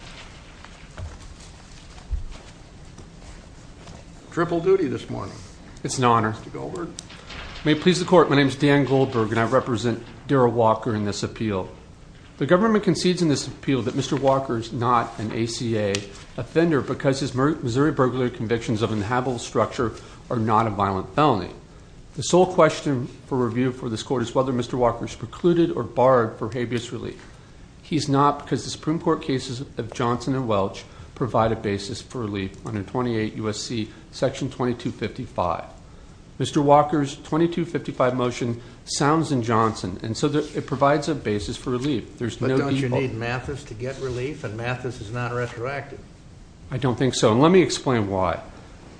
Mr. Walker is not an ACA offender because his Missouri burglary convictions of inhabitable structure are not a violent felony. The sole question for review for this Court is whether Mr. Walker is precluded or barred for habeas relief. He is not because the Supreme Court cases of Johnson and Welch provide a basis for relief under 28 U.S.C. § 2255. Mr. Walker's § 2255 motion sounds in Johnson and so it provides a basis for relief. But don't you need Mathis to get relief and Mathis is not retroactive? I don't think so and let me explain why.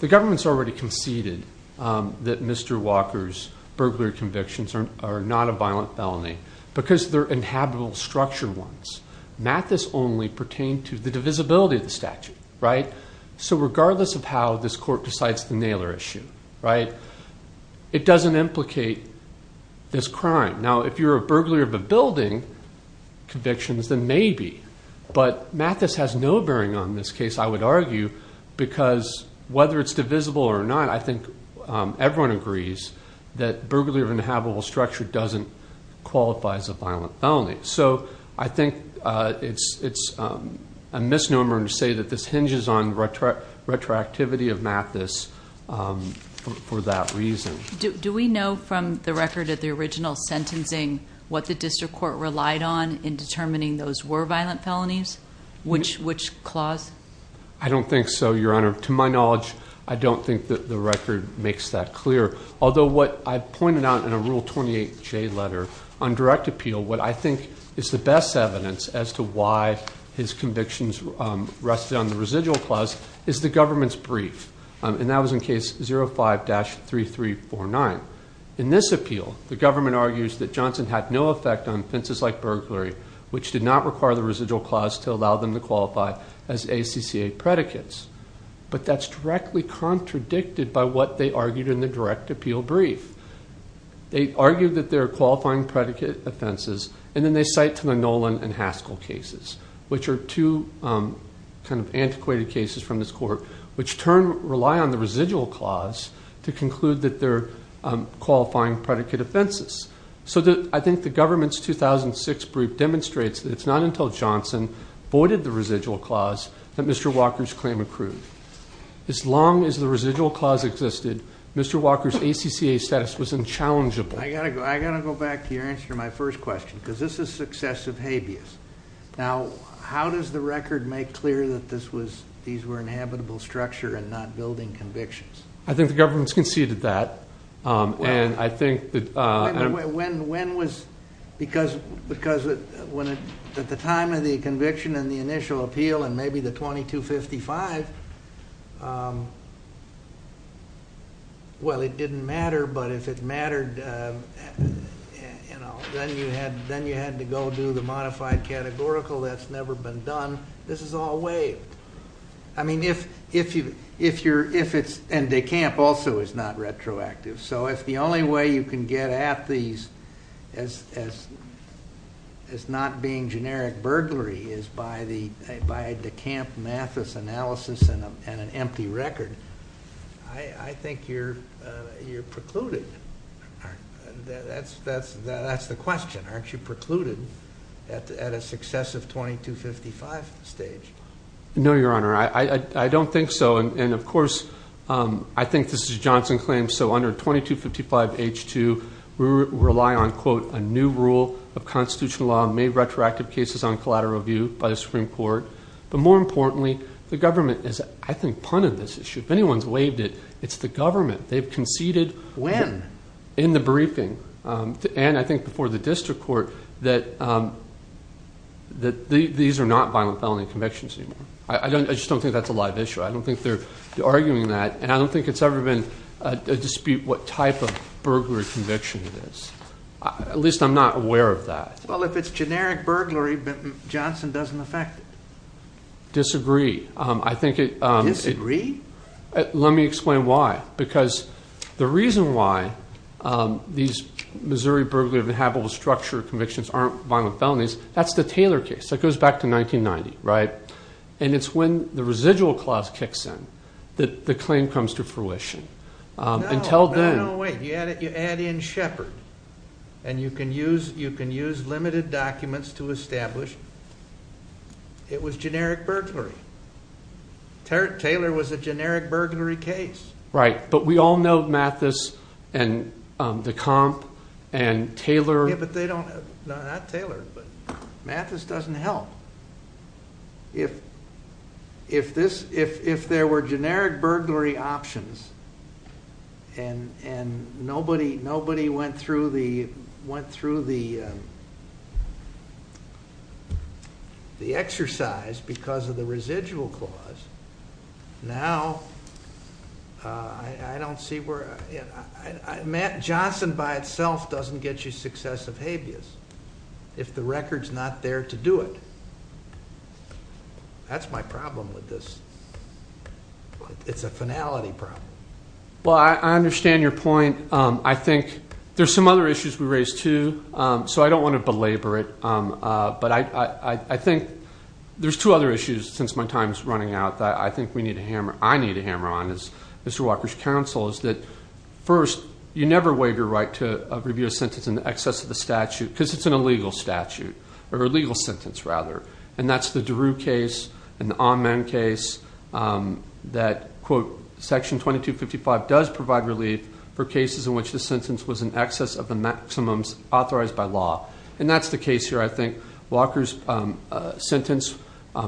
The government has already conceded that Mr. Walker's burglary convictions are not a violent felony because they are inhabitable structure ones. Mathis only pertains to the divisibility of the statute. So regardless of how this Court decides the Nailor issue, it doesn't implicate this crime. Now if you're a burglar of a building convictions then maybe but Mathis has no bearing on this case I would argue because whether it's divisible or not I think everyone agrees that burglary of an inhabitable structure doesn't qualify as a violent felony. So I think it's a misnomer to say that this hinges on retroactivity of Mathis for that reason. Do we know from the record of the original sentencing what the District Court relied on in determining those were violent felonies? Which clause? I don't think so, Your Honor. To my knowledge, I don't think that the record makes that clear although what I pointed out in a Rule 28J letter on direct appeal what I think is the best evidence as to why his convictions rested on the residual clause is the government's brief and that was in case 05-3349. In this appeal, the government argues that Johnson had no effect on offenses like burglary which did not require the residual clause to allow them to qualify as ACCA predicates. But that's directly contradicted by what they argued in the direct appeal brief. They argued that there are qualifying predicate offenses and then they cite to the Nolan and Haskell cases which are two kind of antiquated cases from this court which turn rely on the residual clause to conclude that there are qualifying predicate offenses. So I think the government's 2006 brief demonstrates that it's not until Johnson voided the residual clause that Mr. Walker's claim accrued. As long as the residual clause existed, Mr. Walker's ACCA status was unchallengeable. I got to go back to your answer to my first question because this is successive habeas. Now, how does the record make clear that these were inhabitable structure and not building convictions? I think the government's conceded that and I think that... Wait, wait, wait. When was... Because at the time of the conviction and the initial appeal and maybe the 2255, well, it didn't matter but if it mattered, you know, then you had to go do the modified categorical. That's never been done. This is all waived. I mean, if it's... And De Camp also is not retroactive. So if the only way you can get at these as not being generic burglary is by the De Camp Mathis analysis and an empty record, I think you're precluded. That's the question. Aren't you precluded at a successive 2255 stage? No, Your Honor. I don't think so. And of course, I think this is Johnson's claim. So under 2255 H2, we rely on, quote, a new rule of constitutional law, made retroactive cases on collateral review by the Supreme Court. But more importantly, the government is, I think, punted this issue. If anyone's waived it, it's the government. They've conceded... When? In the briefing and I think before the district court that these are not violent felony convictions anymore. I just don't think that's a live issue. I don't think they're arguing that and I don't think it's ever been a dispute what type of burglary conviction it is. At least I'm not aware of that. Well, if it's generic burglary, Johnson doesn't affect it. Disagree. I think it... Disagree? Let me explain why. Because the reason why these Missouri burglary of inhabitable structure convictions aren't violent felonies, that's the Taylor case. That goes back to 1990, right? And it's when the residual clause kicks in that the claim comes to fruition. Until then... No, no, wait. You add in Shepard and you can use limited documents to establish it was generic burglary. Taylor was a generic burglary case. Right. But we all know Mathis and Decomp and Taylor. Yeah, but they don't... Not Taylor, but Mathis doesn't help. If there were generic burglary options and nobody went through the exercise because of the residual clause, now I don't see where... Johnson by itself doesn't get you successive habeas if the record's not there to do it. That's my problem with this. It's a finality problem. Well, I understand your point. I think there's some other issues we raised too, so I don't want to belabor it. But I think there's two other issues since my time's running out that I think we need to hammer... I need to hammer on as Mr. Walker's counsel is that first, you never waive your right to review a sentence in excess of the statute because it's an illegal statute or a legal sentence rather. And that's the DeRue case and the Ahmen case that, quote, Section 2255 does provide relief for cases in which the sentence was in excess of the maximums authorized by law. And that's the case here, I think. Walker's sentence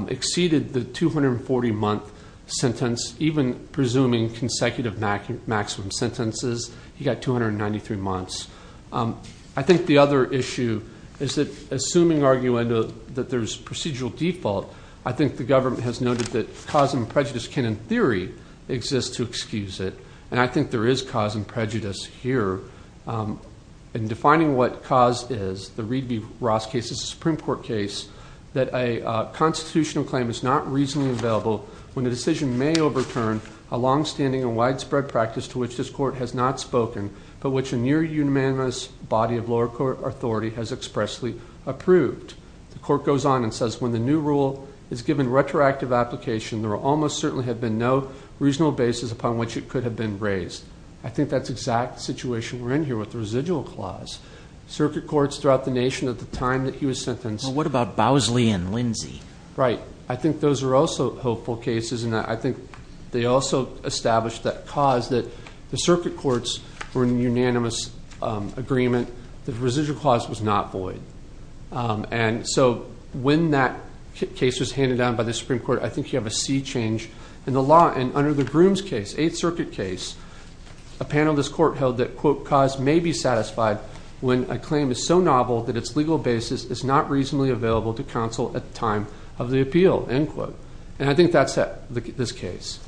exceeded the 240 month sentence, even presuming consecutive maximum sentences. He got 293 months. I think the other issue is that assuming, arguably, that there's procedural default, I think the government has noted that cause and prejudice can, in theory, exist to excuse it. And I think there is cause and prejudice here. In defining what cause is, the Reed v. Ross case is a Supreme Court case that a constitutional claim is not reasonably available when a decision may overturn a longstanding and widespread practice to which this court has not spoken but which a near unanimous body of lower court authority has expressly approved. The court goes on and says, when the new rule is given retroactive application, there will almost certainly have been no reasonable basis upon which it could have been raised. I think that's exact situation we're in here with the residual clause. Circuit courts throughout the nation at the time that he was sentenced. What about Bowsley and Lindsey? Right. I think those are also hopeful cases. And I think they also establish that cause that the circuit courts were in unanimous agreement that the residual clause was not void. And so when that case was handed down by the Supreme Court, I think you have a sea change in the law. And under the Grooms case, Eighth Circuit case, a panel of this court held that, quote, cause may be satisfied when a claim is so novel that its legal basis is not reasonably available to counsel at the time of the appeal, end quote. And I think that's this case.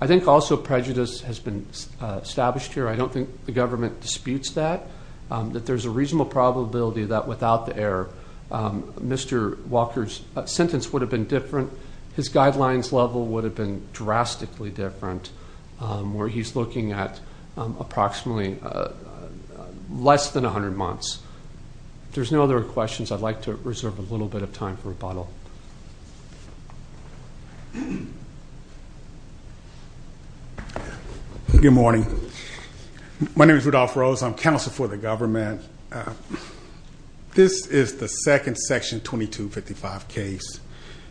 I think also prejudice has been established here. I don't think the government disputes that, that there's a reasonable probability that without the error, Mr. Walker's sentence would have been different. His guidelines level would have been drastically different where he's looking at approximately less than 100 months. If there's no other questions, I'd like to reserve a little bit of time for rebuttal. Good morning. My name is Rudolph Rose. I'm counsel for the government. This is the second section 2255 case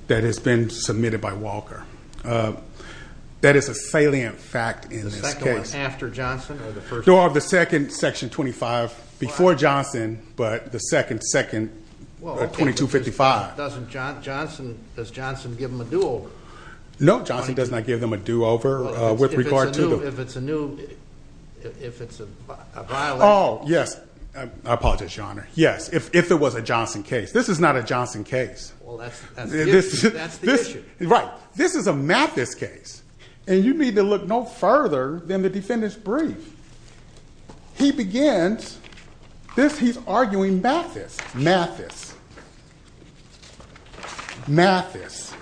that has been submitted by Walker. That is a salient fact in this case. The second one after Johnson? No, the second, section 25, before Johnson, but the second, second 2255. Does Johnson give him a do-over? No, Johnson does not give him a do-over with regard to the... If it's a new, if it's a violent... Oh, yes. I apologize, Your Honor. Yes. If it was a Johnson case. This is not a Johnson case. Well, that's the issue. That's the issue. Right. This is a Mathis case, and you need to look no further than the defendant's brief. He begins... This, he's arguing Mathis. Mathis. Mathis.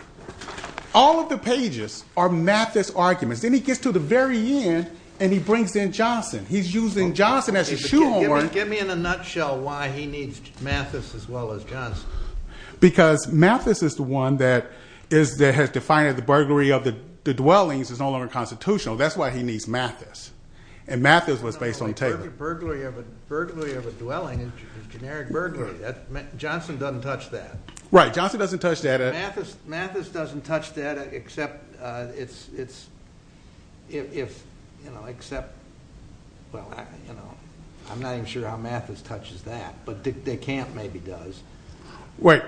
All of the pages are Mathis arguments. Then he gets to the very end, and he brings in Johnson. He's using Johnson as a shoehorn. Give me in a nutshell why he needs Mathis as well as Johnson. Because Mathis is the one that has defined the burglary of the dwellings as no longer constitutional. That's why he needs Mathis, and Mathis was based on Taylor. A burglary of a dwelling is a generic burglary. Johnson doesn't touch that. Right. Johnson doesn't touch that. Mathis doesn't touch that except it's... If, you know, except... Well, you know, I'm not even sure how Mathis is touches that, but DeCamp maybe does. Wait.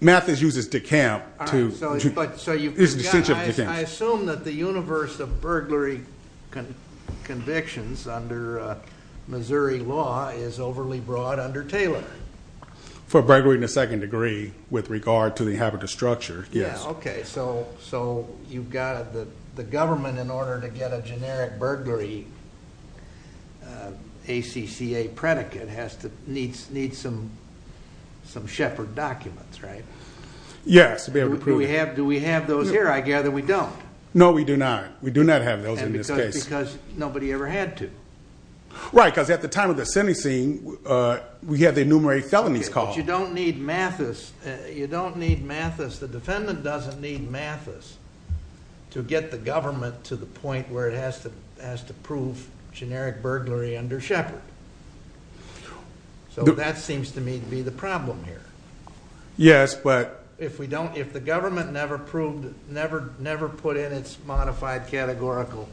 Mathis uses DeCamp to... All right. So you've got... I assume that the universe of burglary convictions under Missouri law is overly broad under Taylor. For burglary in the second degree with regard to the inhabitant structure, yes. Yeah. Okay. So you've got the government in order to get a generic burglary, ACCA, to get a predicate has to need some Shepard documents, right? Yes, to be able to prove it. Do we have those here? I gather we don't. No, we do not. We do not have those in this case. And because nobody ever had to. Right, because at the time of the sentencing, we had the enumerated felonies called. Okay, but you don't need Mathis. You don't need Mathis. The defendant doesn't need Mathis to get the government to the point where it has to prove generic burglary under Shepard. So that seems to me to be the problem here. Yes, but... If the government never put in its modified categorical...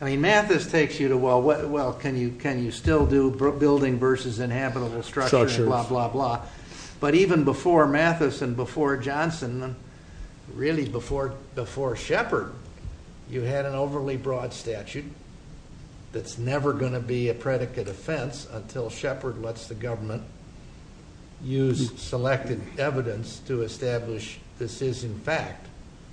I mean, Mathis takes you to, well, can you still do building versus inhabitable structure and blah, blah, blah. But even before Mathis and before Johnson, really before Shepard, you had an overly broad statute that's never going to be a predicate offense until Shepard lets the government use selected evidence to establish this is, in fact,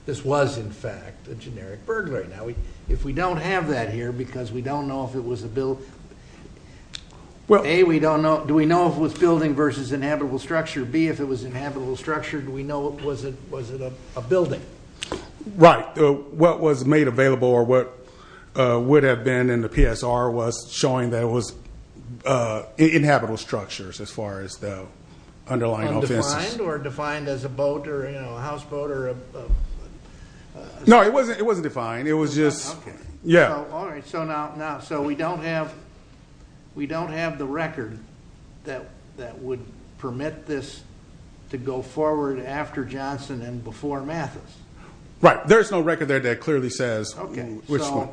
this was, in fact, a generic burglary. Now, if we don't have that here because we don't know if it was a build... A, we don't know. Do we know if it was building versus inhabitable structure? B, if it was inhabitable structure, do we know if it was a building? Right. What was made available or what would have been in the PSR was showing that it was inhabitable structures as far as the underlying offenses. Undefined or defined as a boat or a houseboat or a... No, it wasn't defined. It was just... Okay. Yeah. All right. So now we don't have the record that would permit this to go forward after Johnson and before Mathis. Right. There's no record there that clearly says which one.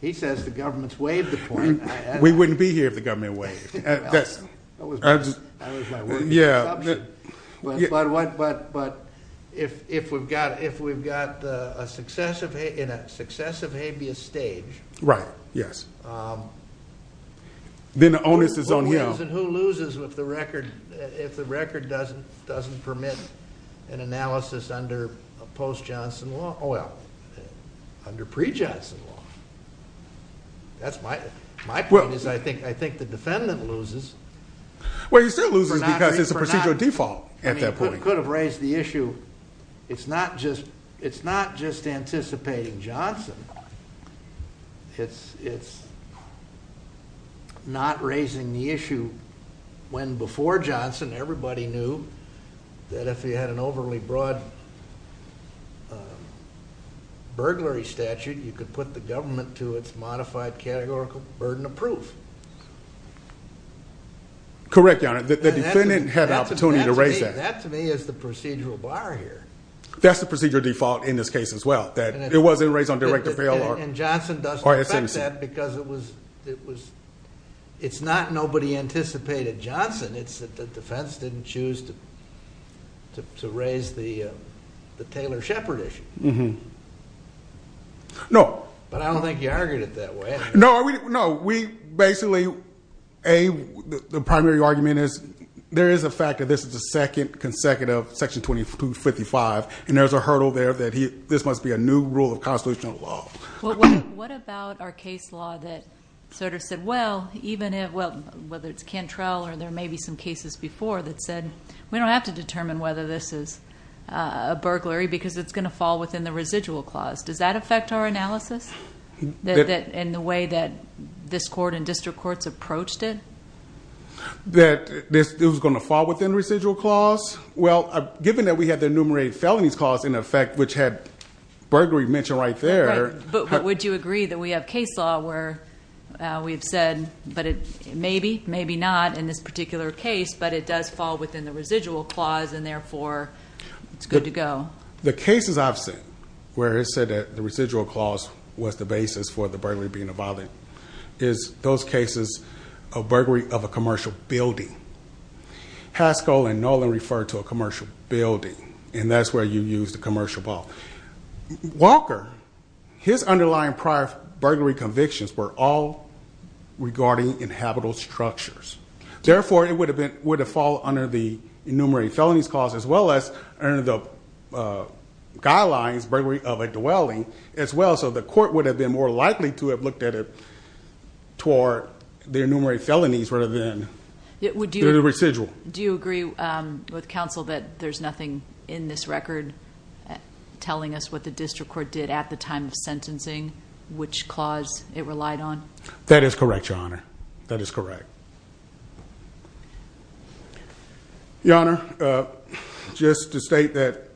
He says the government's waived the court. We wouldn't be here if the government waived. That was my word. Yeah. But if we've got a successive habeas stage... Right. Yes. Then the onus is on him. Who wins and who loses with the record if the record doesn't permit an analysis under post-Johnson law? Oh, well, under pre-Johnson law. That's my point is I think the defendant loses. Well, he still loses because it's a procedural default at that point. I mean, it could have raised the issue. It's not just anticipating Johnson. It's not raising the issue when before Johnson, everybody knew that if the record was waived and if he had an overly broad burglary statute, you could put the government to its modified categorical burden of proof. Correct, Your Honor. The defendant had an opportunity to raise that. That to me is the procedural bar here. That's the procedural default in this case as well. That it wasn't raised on direct avail or... And Johnson doesn't affect that because it was... It's not nobody anticipated Johnson. It's that the defense didn't choose to raise the Taylor-Shepard issue. No. But I don't think you argued it that way. No. We basically, A, the primary argument is there is a fact that this is the second consecutive section 2255 and there's a hurdle there that this must be a new rule of constitutional law. What about our case law that sort of said, well, even if... Well, whether it's We don't have to determine whether this is a burglary because it's going to fall within the residual clause. Does that affect our analysis? In the way that this court and district courts approached it? That it was going to fall within residual clause? Well, given that we had the enumerated felonies clause in effect, which had burglary mentioned right there... Right. But would you agree that we have case law where we've said, maybe, maybe not in this particular case, but it does fall within the residual clause and, therefore, it's good to go? The cases I've seen where it said that the residual clause was the basis for the burglary being a violent, is those cases of burglary of a commercial building. Haskell and Nolan referred to a commercial building, and that's where you use the commercial ball. Walker, his underlying prior burglary convictions were all regarding inhabitable structures. Therefore, it would have fallen under the enumerated felonies clause, as well as under the guidelines burglary of a dwelling, as well. So the court would have been more likely to have looked at it toward the enumerated felonies rather than the residual. Do you agree with counsel that there's nothing in this record telling us what the district court did at the time of sentencing, which clause it relied on? That is correct, Your Honor. That is correct. Your Honor, just to state that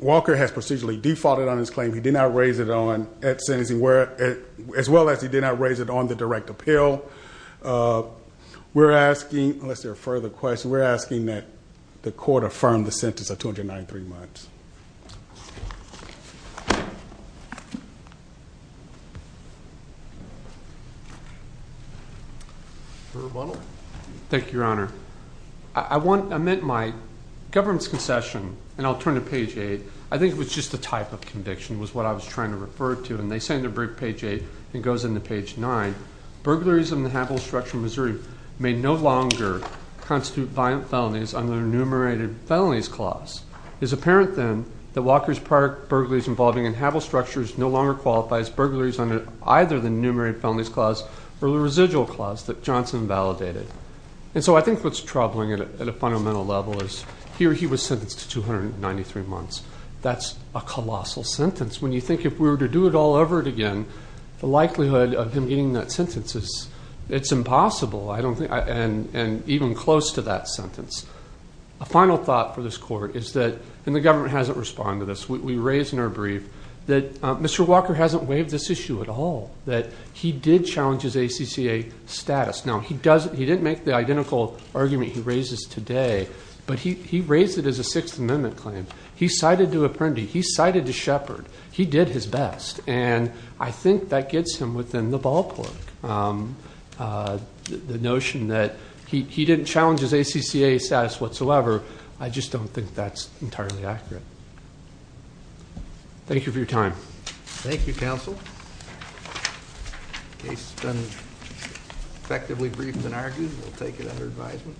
Walker has procedurally defaulted on his claim. He did not raise it on at sentencing, as well as he did not raise it on the direct appeal. We're asking, unless there are further questions, we're asking that the court affirm the sentence of 293 months. Thank you, Your Honor. I meant my government's concession, and I'll turn to page 8. I think it was just the type of conviction was what I was trying to refer to, and they say under page 8, and it goes into page 9, burglaries of an inhabitable structure in Missouri may no longer constitute violent felonies under enumerated felonies clause. It's apparent then that Walker's prior burglaries involving inhabitable structures no longer qualify as burglaries under either the enumerated felonies clause or the residual clause that Johnson validated. And so I think what's troubling at a fundamental level is here he was sentenced to 293 months. That's a colossal sentence. When you think if we were to do it all over again, the likelihood of him getting that sentence. A final thought for this court is that, and the government hasn't responded to this, we raised in our brief that Mr. Walker hasn't waived this issue at all, that he did challenge his ACCA status. Now, he didn't make the identical argument he raises today, but he raised it as a Sixth Amendment claim. He cited to Apprendi. He cited to Shepard. He did his best, and I think that gets him within the ballpark, the notion that he didn't challenge his ACCA status whatsoever. I just don't think that's entirely accurate. Thank you for your time. Thank you, counsel. The case has been effectively briefed and argued. We'll take it under advisement.